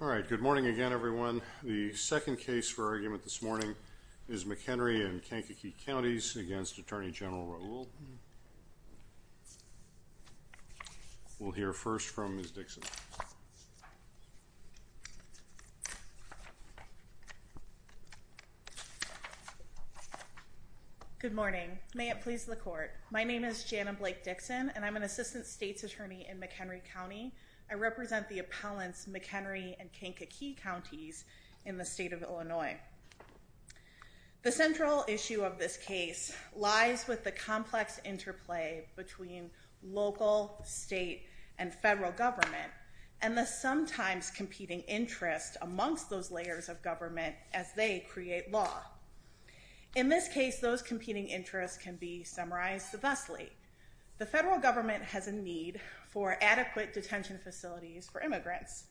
Alright, good morning again everyone. The second case for argument this morning is McHenry and Kankakee Counties against Attorney General Raoul. We'll hear first from Ms. Dixon. Good morning. May it please the court. My name is Jana Blake Dixon and I'm an Assistant States Attorney in McHenry County. I represent the appellants McHenry and Kankakee Counties in the state of Illinois. The central issue of this case lies with the complex interplay between local, state, and federal government and the sometimes competing interests amongst those layers of government as they create law. In this case, those competing interests can be summarized thusly. The federal government has a need for adequate detention facilities for immigrants.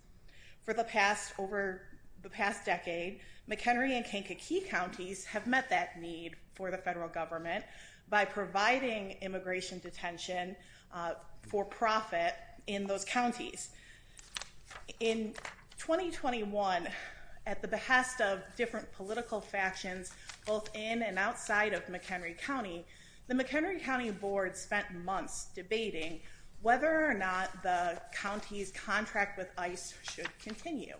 For the past decade, McHenry and Kankakee Counties have met that need for the federal government by providing immigration detention for profit in those counties. In 2021, at the behest of different political factions both in and outside of McHenry County, the McHenry County Board spent months debating whether or not the county's contract with ICE should continue.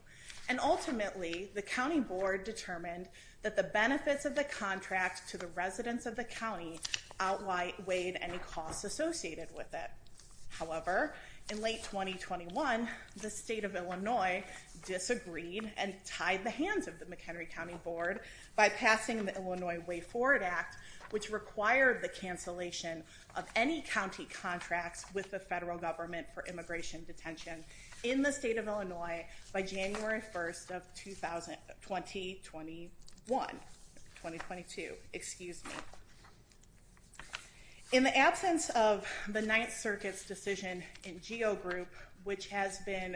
And ultimately, the County Board determined that the benefits of the contract to the residents of the county outweighed any costs associated with it. However, in late 2021, the state of Illinois disagreed and tied the hands of the McHenry County Board by passing the Illinois Way Forward Act, which required the cancellation of any county contracts with the federal government for immigration detention in the state of Illinois by January 1, 2021. In the absence of the Ninth Circuit's decision in GEO Group, which has been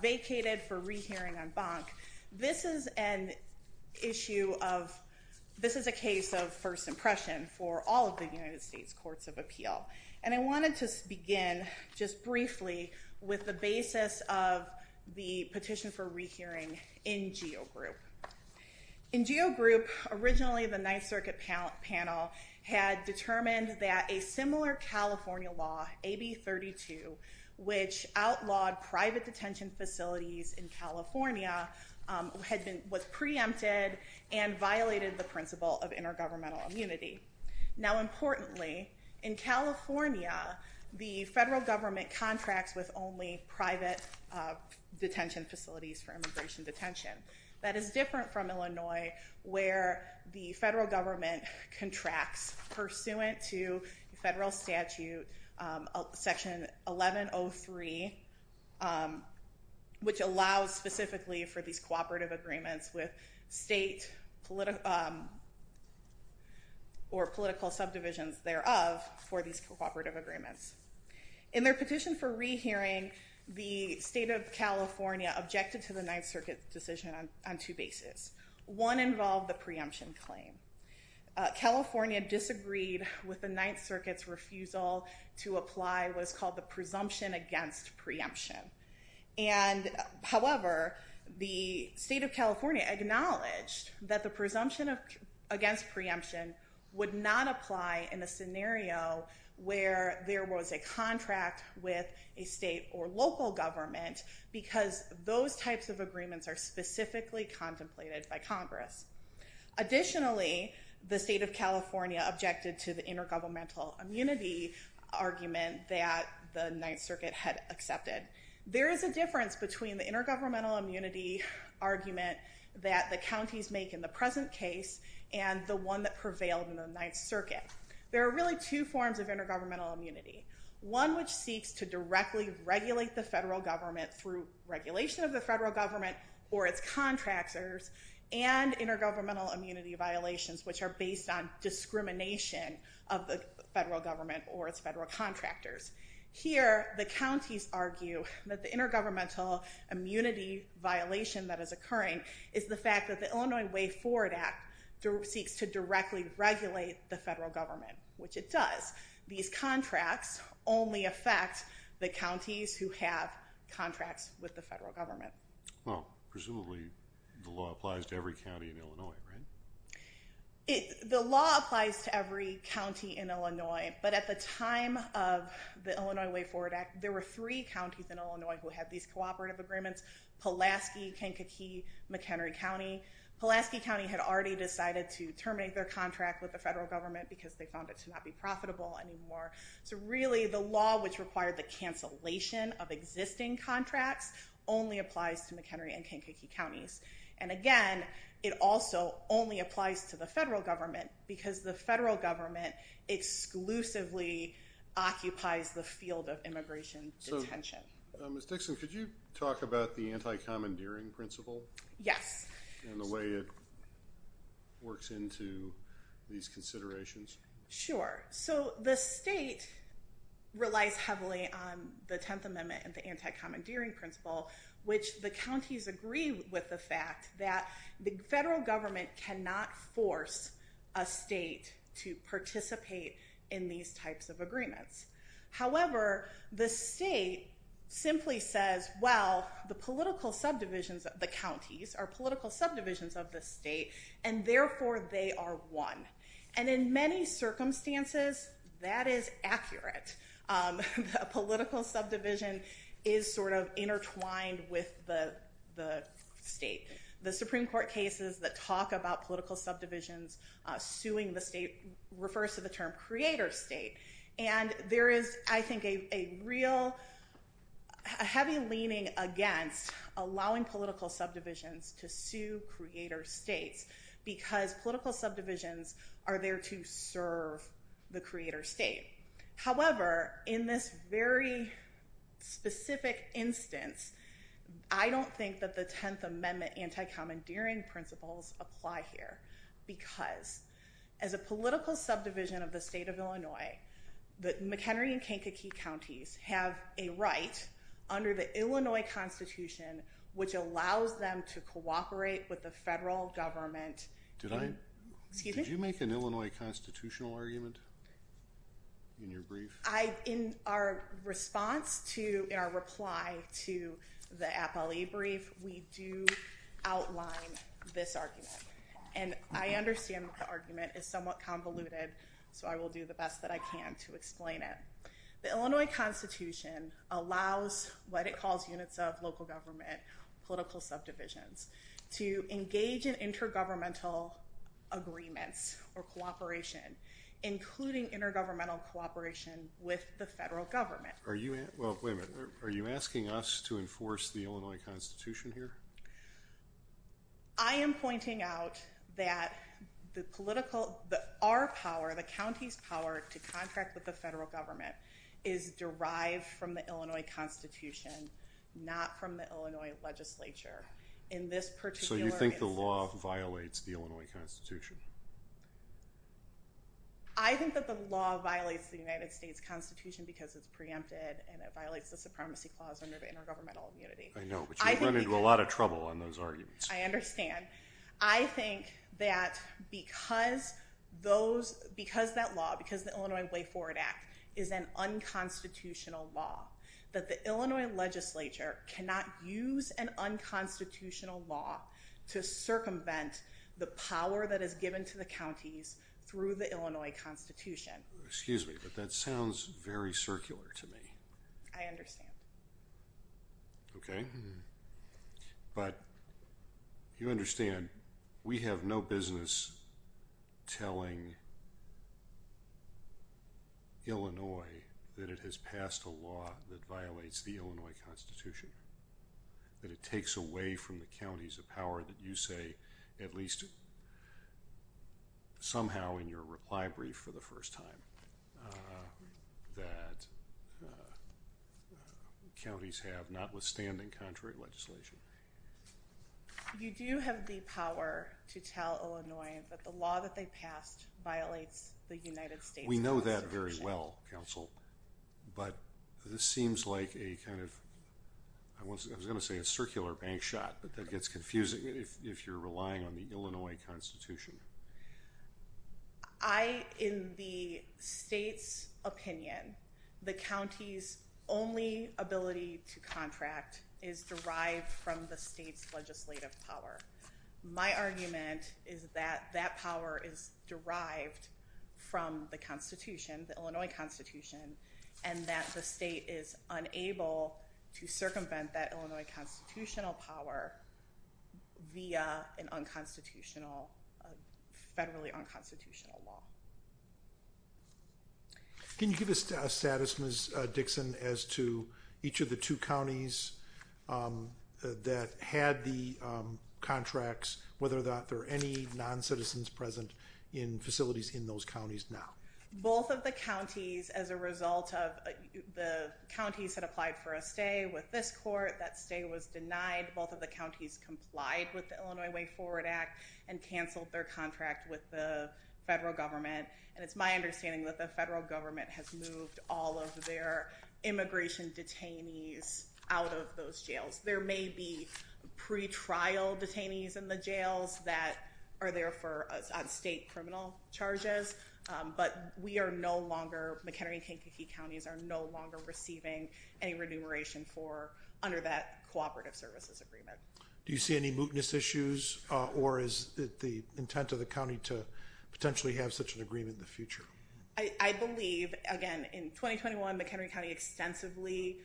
vacated for re-hearing on Bonk, this is an issue of, this is a case of first impression for all of the United States Courts of Appeal. And I wanted to begin just briefly with the basis of the petition for re-hearing in GEO Group. In GEO Group, originally the Ninth Circuit panel had determined that a similar California law, AB 32, which outlawed private detention facilities in California, was preempted and violated the principle of intergovernmental immunity. Now importantly, in California, the federal government contracts with only private detention facilities for immigration detention. That is different from Illinois, where the federal government contracts pursuant to federal statute section 1103, which allows specifically for these cooperative agreements with state or political subdivisions thereof for these cooperative agreements. In their petition for re-hearing, the state of California objected to the Ninth Circuit's decision on two bases. One involved the preemption claim. California disagreed with the Ninth Circuit's refusal to apply what is called the presumption against preemption. And however, the state of California acknowledged that the presumption against preemption would not apply in a scenario where there was a contract with a state or local government because those types of agreements are specifically contemplated by Congress. Additionally, the state of California objected to the intergovernmental immunity argument that the Ninth Circuit had accepted. There is a difference between the intergovernmental immunity argument that the counties make in the present case and the one that prevailed in the Ninth Circuit. There are really two forms of intergovernmental immunity. One which seeks to directly regulate the federal government through regulation of the federal government or its contractors and intergovernmental immunity violations which are based on discrimination of the federal government or its federal contractors. Here, the counties argue that the intergovernmental immunity violation that is occurring is the fact that the Illinois Way Forward Act seeks to directly regulate the federal government, which it does. These contracts only affect the counties who have contracts with the federal government. Well, presumably the law applies to every county in Illinois, right? The law applies to every county in Illinois, but at the time of the Illinois Way Forward Act, there were three counties in Illinois who had these cooperative agreements, Pulaski, Kankakee, McHenry County. Pulaski County had already decided to terminate their contract with the federal government because they found it to not be profitable anymore. So really, the law which required the cancellation of existing contracts only applies to McHenry and Kankakee counties. And again, it also only applies to the federal government because the federal government exclusively occupies the field of immigration detention. Ms. Dixon, could you talk about the anti-commandeering principle? Yes. And the way it works into these considerations. Sure. So the state relies heavily on the Tenth Amendment and the anti-commandeering principle, which the counties agree with the fact that the federal government cannot force a state to participate in these types of agreements. However, the state simply says, well, the political subdivisions of the counties are political subdivisions of the state, and therefore they are one. And in many circumstances, that is accurate. A political subdivision is sort of intertwined with the state. The Supreme Court cases that talk about political subdivisions suing the state refers to the term creator state. And there is, I think, a real heavy leaning against allowing political subdivisions to sue creator states because political subdivisions are there to serve the creator state. However, in this very specific instance, I don't think that the Tenth Amendment anti-commandeering principles apply here because as a political subdivision of the state of Illinois, the McHenry and Kankakee counties have a right under the Illinois Constitution, which allows them to cooperate with the federal government. Did I? Excuse me? Did you make an Illinois constitutional argument? In your brief? I, in our response to, in our reply to the APLE brief, we do outline this argument. And I understand that the argument is somewhat convoluted, so I will do the best that I can to explain it. The Illinois Constitution allows what it calls units of local government, political subdivisions, to engage in intergovernmental agreements or cooperation, including intergovernmental cooperation with the federal government. Are you, well, wait a minute, are you asking us to enforce the Illinois Constitution here? I am pointing out that the political, our power, the county's power to contract with the federal government is derived from the Illinois Constitution, not from the Illinois legislature. In this particular instance. So you think the law violates the Illinois Constitution? I think that the law violates the United States Constitution because it's preempted and it violates the Supremacy Clause under the Intergovernmental Community. I know, but you run into a lot of trouble on those arguments. I understand. I think that because those, because that law, because the Illinois Way Forward Act is an unconstitutional law, that the Illinois legislature cannot use an unconstitutional law to circumvent the power that is given to the counties through the Illinois Constitution. Excuse me, but that sounds very circular to me. I understand. Okay. But you understand, we have no business telling Illinois that it has passed a law that violates the Illinois Constitution. That it takes away from the counties a power that you say, at least somehow in your reply brief for the first time, that counties have notwithstanding contrary legislation. You do have the power to tell Illinois that the law that they passed violates the United States Constitution. We know that very well, counsel, but this seems like a kind of, I was going to say a circular bank shot, but that gets confusing if you're relying on the Illinois Constitution. I, in the state's opinion, the county's only ability to contract is derived from the state's legislative power. My argument is that that power is derived from the Constitution, the Illinois Constitution, and that the state is unable to circumvent that Illinois constitutional power via an unconstitutional, federally unconstitutional law. Can you give us a status, Ms. Dixon, as to each of the two counties that had the contracts, whether or not there are any non-citizens present in facilities in those counties now? Both of the counties, as a result of the counties that applied for a stay with this court, that stay was denied. Both of the counties complied with the Illinois Way Forward Act and canceled their contract with the federal government. And it's my understanding that the federal government has moved all of their immigration detainees out of those jails. There may be pretrial detainees in the jails that are there on state criminal charges, but we are no longer, McHenry and Kankakee counties are no longer receiving any remuneration under that cooperative services agreement. Do you see any mootness issues, or is it the intent of the county to potentially have such an agreement in the future? I believe, again, in 2021, McHenry County extensively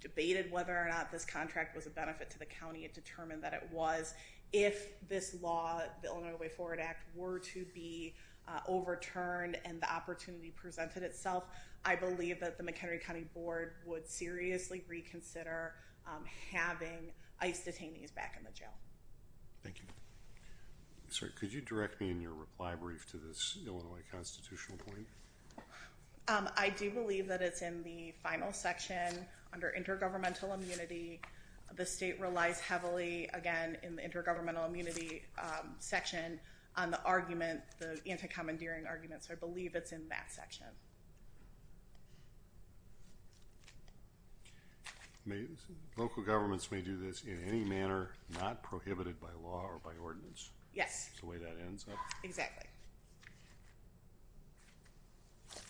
debated whether or not this contract was a benefit to the county. It determined that it was. If this law, the Illinois Way Forward Act, were to be overturned and the opportunity presented itself, I believe that the McHenry County Board would seriously reconsider having ICE detainees back in the jail. Thank you. Sorry, could you direct me in your reply brief to this Illinois constitutional point? I do believe that it's in the final section under intergovernmental immunity. The state relies heavily, again, in the intergovernmental immunity section on the argument, the anti-commandeering argument, so I believe it's in that section. Local governments may do this in any manner, not prohibited by law or by ordinance. Yes. That's the way that ends up. Exactly.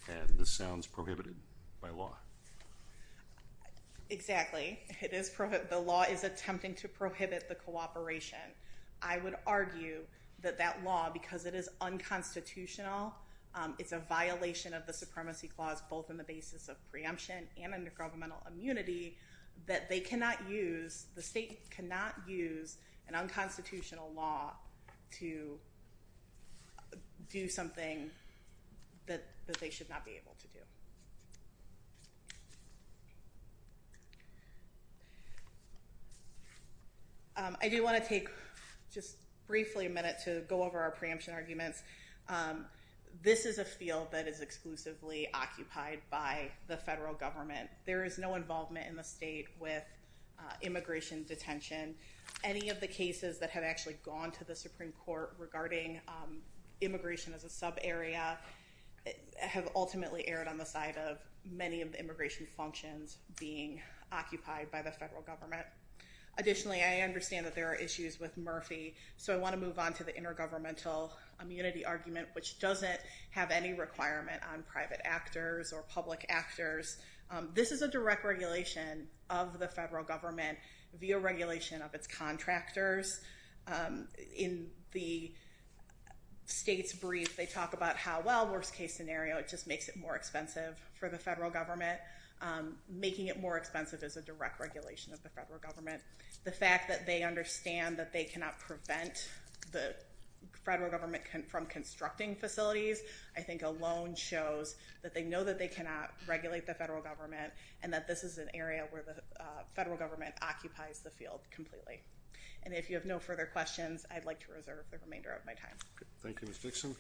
And this sounds prohibited by law. Exactly. The law is attempting to prohibit the cooperation. I would argue that that law, because it is unconstitutional, it's a violation of the supremacy clause, both in the basis of preemption and intergovernmental immunity, that they cannot use, the state cannot use, an unconstitutional law to do something that they should not be able to do. I do want to take just briefly a minute to go over our preemption arguments. This is a field that is exclusively occupied by the federal government. There is no involvement in the state with immigration detention. Any of the cases that have actually gone to the Supreme Court regarding immigration as a subarea have ultimately erred on the side of many of the immigration functions being occupied by the federal government. Additionally, I understand that there are issues with Murphy, so I want to move on to the intergovernmental immunity argument, which doesn't have any requirement on private actors or public actors. This is a direct regulation of the federal government via regulation of its contractors. In the state's brief, they talk about how, well, worst case scenario, it just makes it more expensive for the federal government. Making it more expensive is a direct regulation of the federal government. The fact that they understand that they cannot prevent the federal government from constructing facilities, I think alone shows that they know that they cannot regulate the federal government and that this is an area where the federal government occupies the field completely. And if you have no further questions, I'd like to reserve the remainder of my time. Thank you, Ms. Dixon.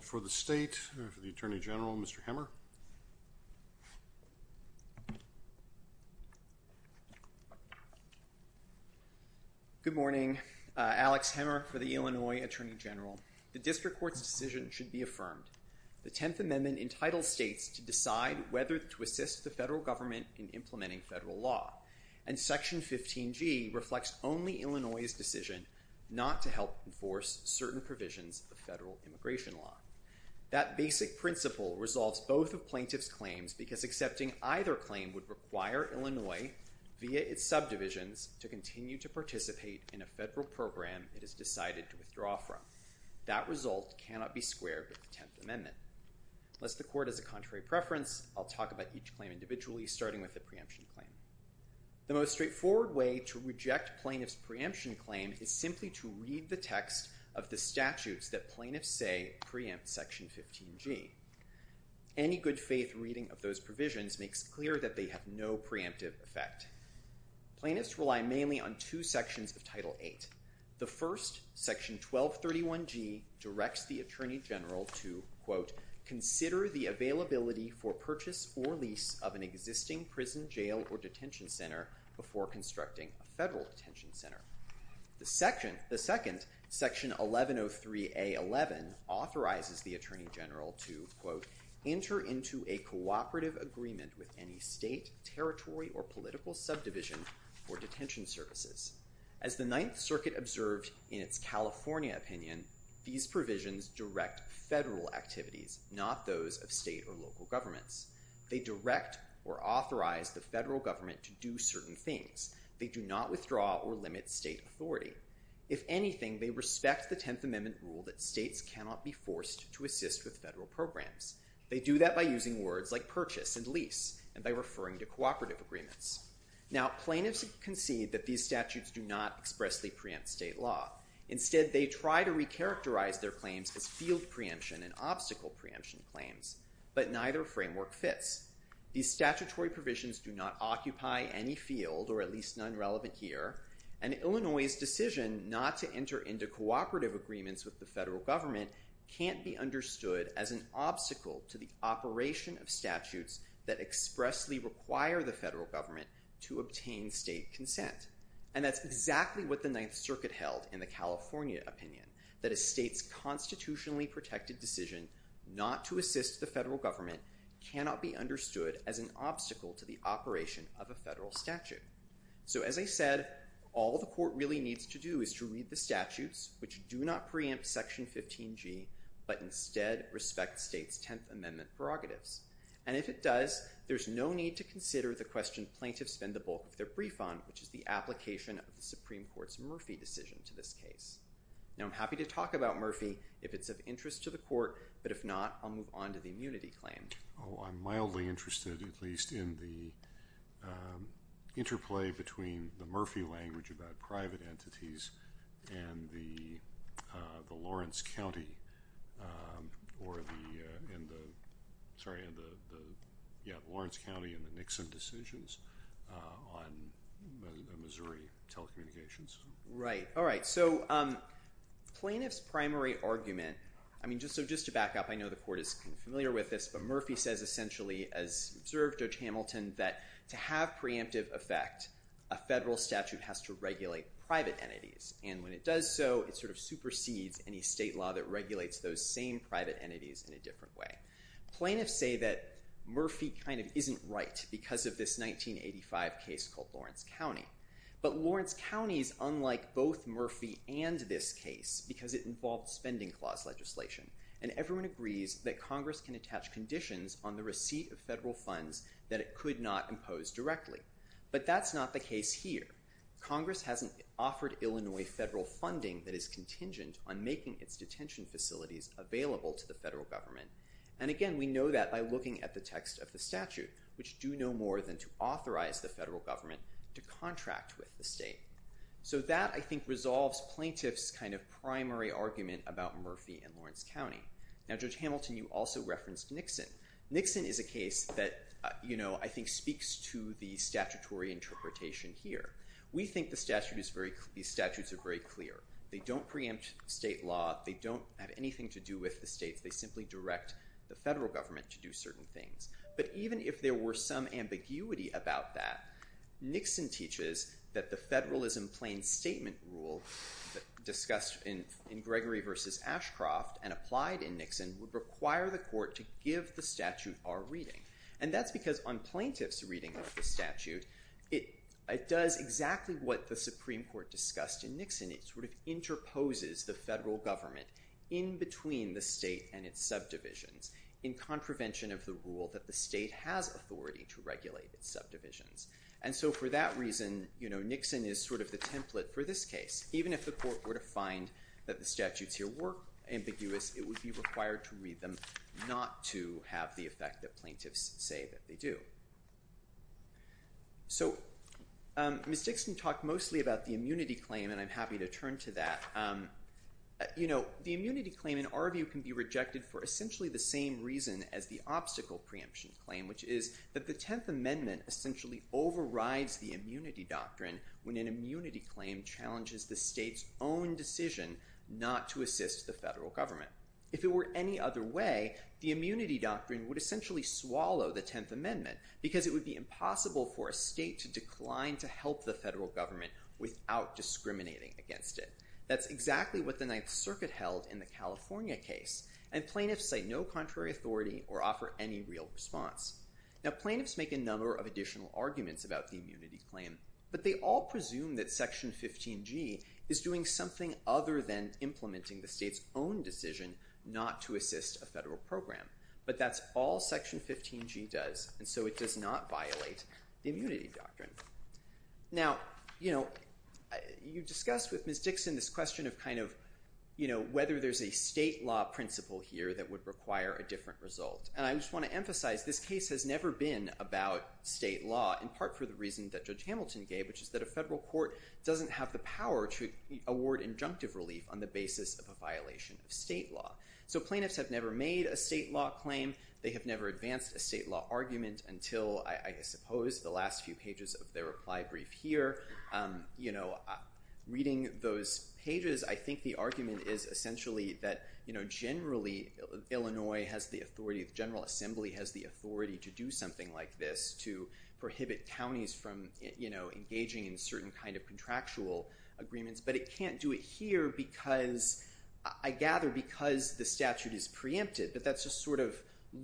For the state, for the Attorney General, Mr. Hemmer. Good morning. Alex Hemmer for the Illinois Attorney General. The district court's decision should be affirmed. The 10th Amendment entitles states to decide whether to assist the federal government in implementing federal law. And Section 15G reflects only Illinois' decision not to help enforce certain provisions of federal immigration law. That basic principle resolves both of plaintiffs' claims because accepting either claim would require Illinois, via its subdivisions, to continue to participate in a federal program it has decided to withdraw from. That result cannot be squared with the 10th Amendment. Unless the court has a contrary preference, I'll talk about each claim individually, starting with the preemption claim. The most straightforward way to reject plaintiffs' preemption claim is simply to read the text of the statutes that plaintiffs say preempt Section 15G. Any good faith reading of those provisions makes clear that they have no preemptive effect. Plaintiffs rely mainly on two sections of Title VIII. The first, Section 1231G, directs the Attorney General to, quote, consider the availability for purchase or lease of an existing prison, jail, or detention center before constructing a federal detention center. The second, Section 1103A11, authorizes the Attorney General to, quote, enter into a cooperative agreement with any state, territory, or political subdivision for detention services. As the Ninth Circuit observed in its California opinion, these provisions direct federal activities, not those of state or local governments. They direct or authorize the federal government to do certain things. They do not withdraw or limit state authority. If anything, they respect the 10th Amendment rule that states cannot be forced to assist with federal programs. They do that by using words like purchase and lease and by referring to cooperative agreements. Now, plaintiffs concede that these statutes do not expressly preempt state law. Instead, they try to recharacterize their claims as field preemption and obstacle preemption claims, but neither framework fits. These statutory provisions do not occupy any field, or at least none relevant here, and Illinois' decision not to enter into cooperative agreements with the federal government can't be understood as an obstacle to the operation of statutes that expressly require the federal government to obtain state consent. And that's exactly what the Ninth Circuit held in the California opinion, that a state's constitutionally protected decision not to assist the federal government cannot be understood as an obstacle to the operation of a federal statute. So, as I said, all the court really needs to do is to read the statutes, which do not preempt Section 15G, but instead respect state's 10th Amendment prerogatives. And if it does, there's no need to consider the question plaintiffs spend the bulk of their brief on, which is the application of the Supreme Court's Murphy decision to this case. Now, I'm happy to talk about Murphy if it's of interest to the court, but if not, I'll move on to the immunity claim. I'm mildly interested, at least, in the interplay between the Murphy language about private entities and the Lawrence County and the Nixon decisions on Missouri telecommunications. Right. All right. So plaintiff's primary argument – I mean, just to back up, I know the court is familiar with this, but Murphy says essentially, as observed Judge Hamilton, that to have preemptive effect, a federal statute has to regulate private entities. And when it does so, it sort of supersedes any state law that regulates those same private entities in a different way. Plaintiffs say that Murphy kind of isn't right because of this 1985 case called Lawrence County. But Lawrence County is unlike both Murphy and this case because it involves spending clause legislation. And everyone agrees that Congress can attach conditions on the receipt of federal funds that it could not impose directly. But that's not the case here. Congress hasn't offered Illinois federal funding that is contingent on making its detention facilities available to the federal government. And again, we know that by looking at the text of the statute, which do no more than to authorize the federal government to contract with the state. So that, I think, resolves plaintiff's kind of primary argument about Murphy and Lawrence County. Now, Judge Hamilton, you also referenced Nixon. Nixon is a case that, you know, I think speaks to the statutory interpretation here. We think the statute is very – these statutes are very clear. They don't preempt state law. They don't have anything to do with the states. They simply direct the federal government to do certain things. But even if there were some ambiguity about that, Nixon teaches that the federalism plain statement rule discussed in Gregory v. Ashcroft and applied in Nixon would require the court to give the statute our reading. And that's because on plaintiff's reading of the statute, it does exactly what the Supreme Court discussed in Nixon. It sort of interposes the federal government in between the state and its subdivisions in contravention of the rule that the state has authority to regulate its subdivisions. And so for that reason, you know, Nixon is sort of the template for this case. Even if the court were to find that the statutes here were ambiguous, it would be required to read them not to have the effect that plaintiffs say that they do. So Ms. Dixon talked mostly about the immunity claim, and I'm happy to turn to that. You know, the immunity claim in our view can be rejected for essentially the same reason as the obstacle preemption claim, which is that the 10th Amendment essentially overrides the immunity doctrine when an immunity claim challenges the state's own decision not to assist the federal government. If it were any other way, the immunity doctrine would essentially swallow the 10th Amendment because it would be impossible for a state to decline to help the federal government without discriminating against it. That's exactly what the Ninth Circuit held in the California case, and plaintiffs say no contrary authority or offer any real response. Now, plaintiffs make a number of additional arguments about the immunity claim, but they all presume that Section 15G is doing something other than implementing the state's own decision not to assist a federal program. But that's all Section 15G does, and so it does not violate the immunity doctrine. Now, you know, you discussed with Ms. Dixon this question of kind of, you know, whether there's a state law principle here that would require a different result, and I just want to emphasize this case has never been about state law in part for the reason that Judge Hamilton gave, which is that a federal court doesn't have the power to award injunctive relief on the basis of a violation of state law. So plaintiffs have never made a state law claim. They have never advanced a state law argument until, I suppose, the last few pages of their reply brief here. You know, reading those pages, I think the argument is essentially that, you know, generally Illinois has the authority, the General Assembly has the authority to do something like this to prohibit counties from, you know, engaging in certain kind of contractual agreements, but it can't do it here because, I gather, because the statute is preempted. But that just sort of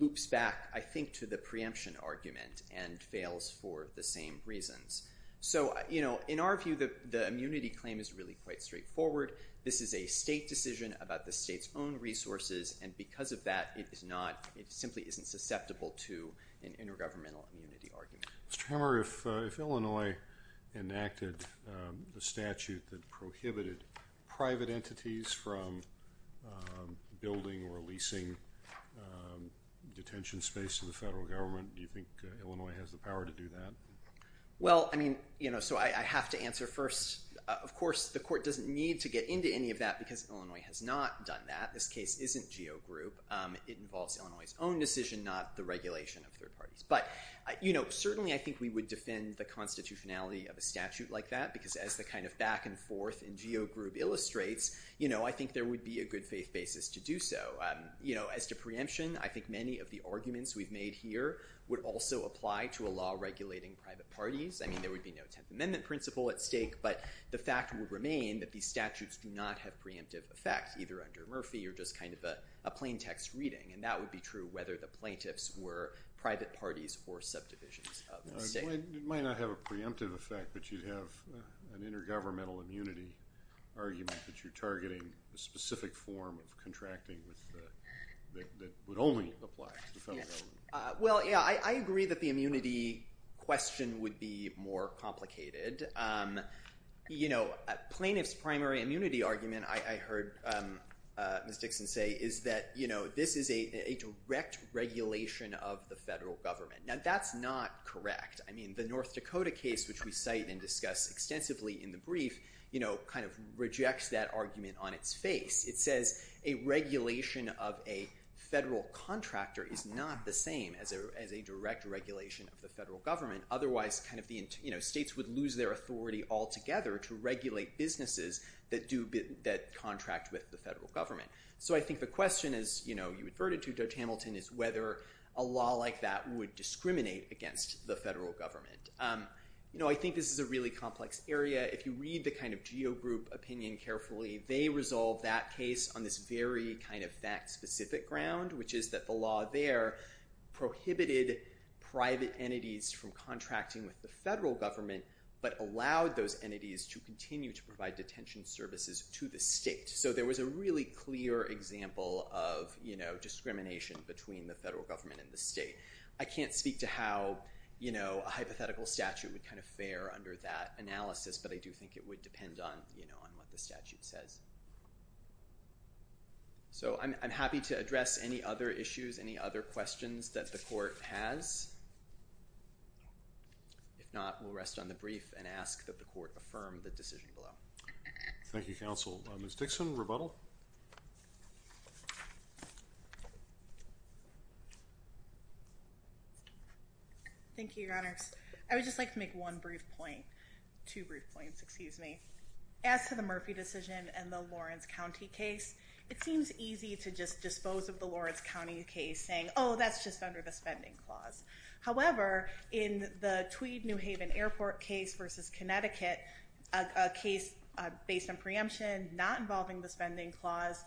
loops back, I think, to the preemption argument and fails for the same reasons. So, you know, in our view, the immunity claim is really quite straightforward. This is a state decision about the state's own resources, and because of that, it is not, it simply isn't susceptible to an intergovernmental immunity argument. Mr. Hammer, if Illinois enacted the statute that prohibited private entities from building or leasing detention space to the federal government, do you think Illinois has the power to do that? Well, I mean, you know, so I have to answer first. Of course, the court doesn't need to get into any of that because Illinois has not done that. This case isn't geogroup. It involves Illinois' own decision, not the regulation of third parties. But, you know, certainly I think we would defend the constitutionality of a statute like that because as the kind of back and forth in geogroup illustrates, you know, I think there would be a good faith basis to do so. You know, as to preemption, I think many of the arguments we've made here would also apply to a law regulating private parties. I mean, there would be no Tenth Amendment principle at stake, but the fact would remain that these statutes do not have preemptive effect, either under Murphy or just kind of a plain text reading. And that would be true whether the plaintiffs were private parties or subdivisions of the state. It might not have a preemptive effect, but you'd have an intergovernmental immunity argument that you're targeting a specific form of contracting that would only apply to the federal government. Well, yeah, I agree that the immunity question would be more complicated. You know, plaintiff's primary immunity argument, I heard Ms. Dixon say, is that, you know, this is a direct regulation of the federal government. Now, that's not correct. I mean, the North Dakota case, which we cite and discuss extensively in the brief, you know, kind of rejects that argument on its face. It says a regulation of a federal contractor is not the same as a direct regulation of the federal government. Otherwise, states would lose their authority altogether to regulate businesses that contract with the federal government. So I think the question is, you know, you adverted to, Judge Hamilton, is whether a law like that would discriminate against the federal government. You know, I think this is a really complex area. If you read the kind of geo-group opinion carefully, they resolve that case on this very kind of that specific ground, which is that the law there prohibited private entities from contracting with the federal government, but allowed those entities to continue to provide detention services to the state. So there was a really clear example of, you know, discrimination between the federal government and the state. I can't speak to how, you know, a hypothetical statute would kind of fare under that analysis, but I do think it would depend on, you know, on what the statute says. So I'm happy to address any other issues, any other questions that the court has. If not, we'll rest on the brief and ask that the court affirm the decision below. Thank you, Counsel. Ms. Dixon, rebuttal. Thank you, Your Honors. I would just like to make one brief point, two brief points, excuse me. As to the Murphy decision and the Lawrence County case, it seems easy to just dispose of the Lawrence County case saying, oh, that's just under the spending clause. However, in the Tweed New Haven Airport case versus Connecticut, a case based on preemption not involving the spending clause,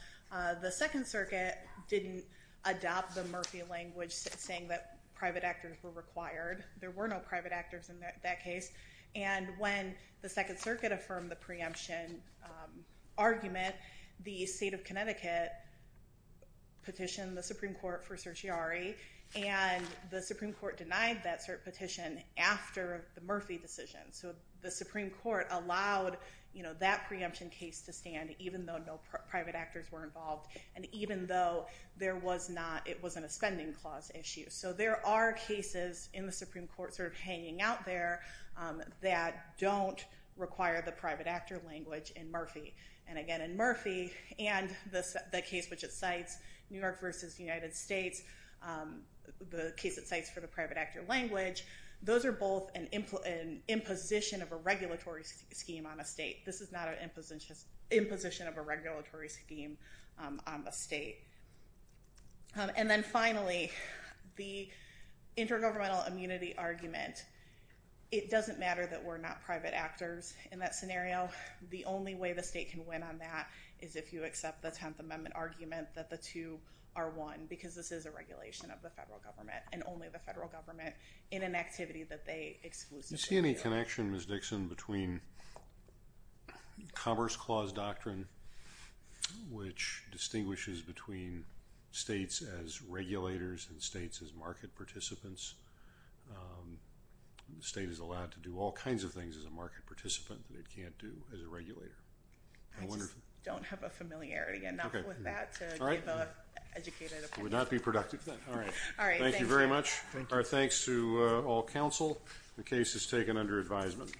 the Second Circuit didn't adopt the Murphy language saying that private actors were required. There were no private actors in that case. And when the Second Circuit affirmed the preemption argument, and the Supreme Court denied that cert petition after the Murphy decision. So the Supreme Court allowed, you know, that preemption case to stand, even though no private actors were involved. And even though there was not, it wasn't a spending clause issue. So there are cases in the Supreme Court sort of hanging out there that don't require the private actor language in Murphy. And again, in Murphy and the case which it cites, New York versus United States, the case it cites for the private actor language, those are both an imposition of a regulatory scheme on a state. This is not an imposition of a regulatory scheme on the state. And then finally, the intergovernmental immunity argument. It doesn't matter that we're not private actors in that scenario. The only way the state can win on that is if you accept the Tenth Amendment argument that the two are one because this is a regulation of the federal government and only the federal government in an activity that they exclusively do. Do you see any connection, Ms. Dixon, between Commerce Clause Doctrine, which distinguishes between states as regulators and states as market participants? The state is allowed to do all kinds of things as a market participant that it can't do as a regulator. I just don't have a familiarity enough with that to give an educated opinion. It would not be productive then. All right. Thank you. Thank you very much. Our thanks to all counsel. The case is taken under advisement.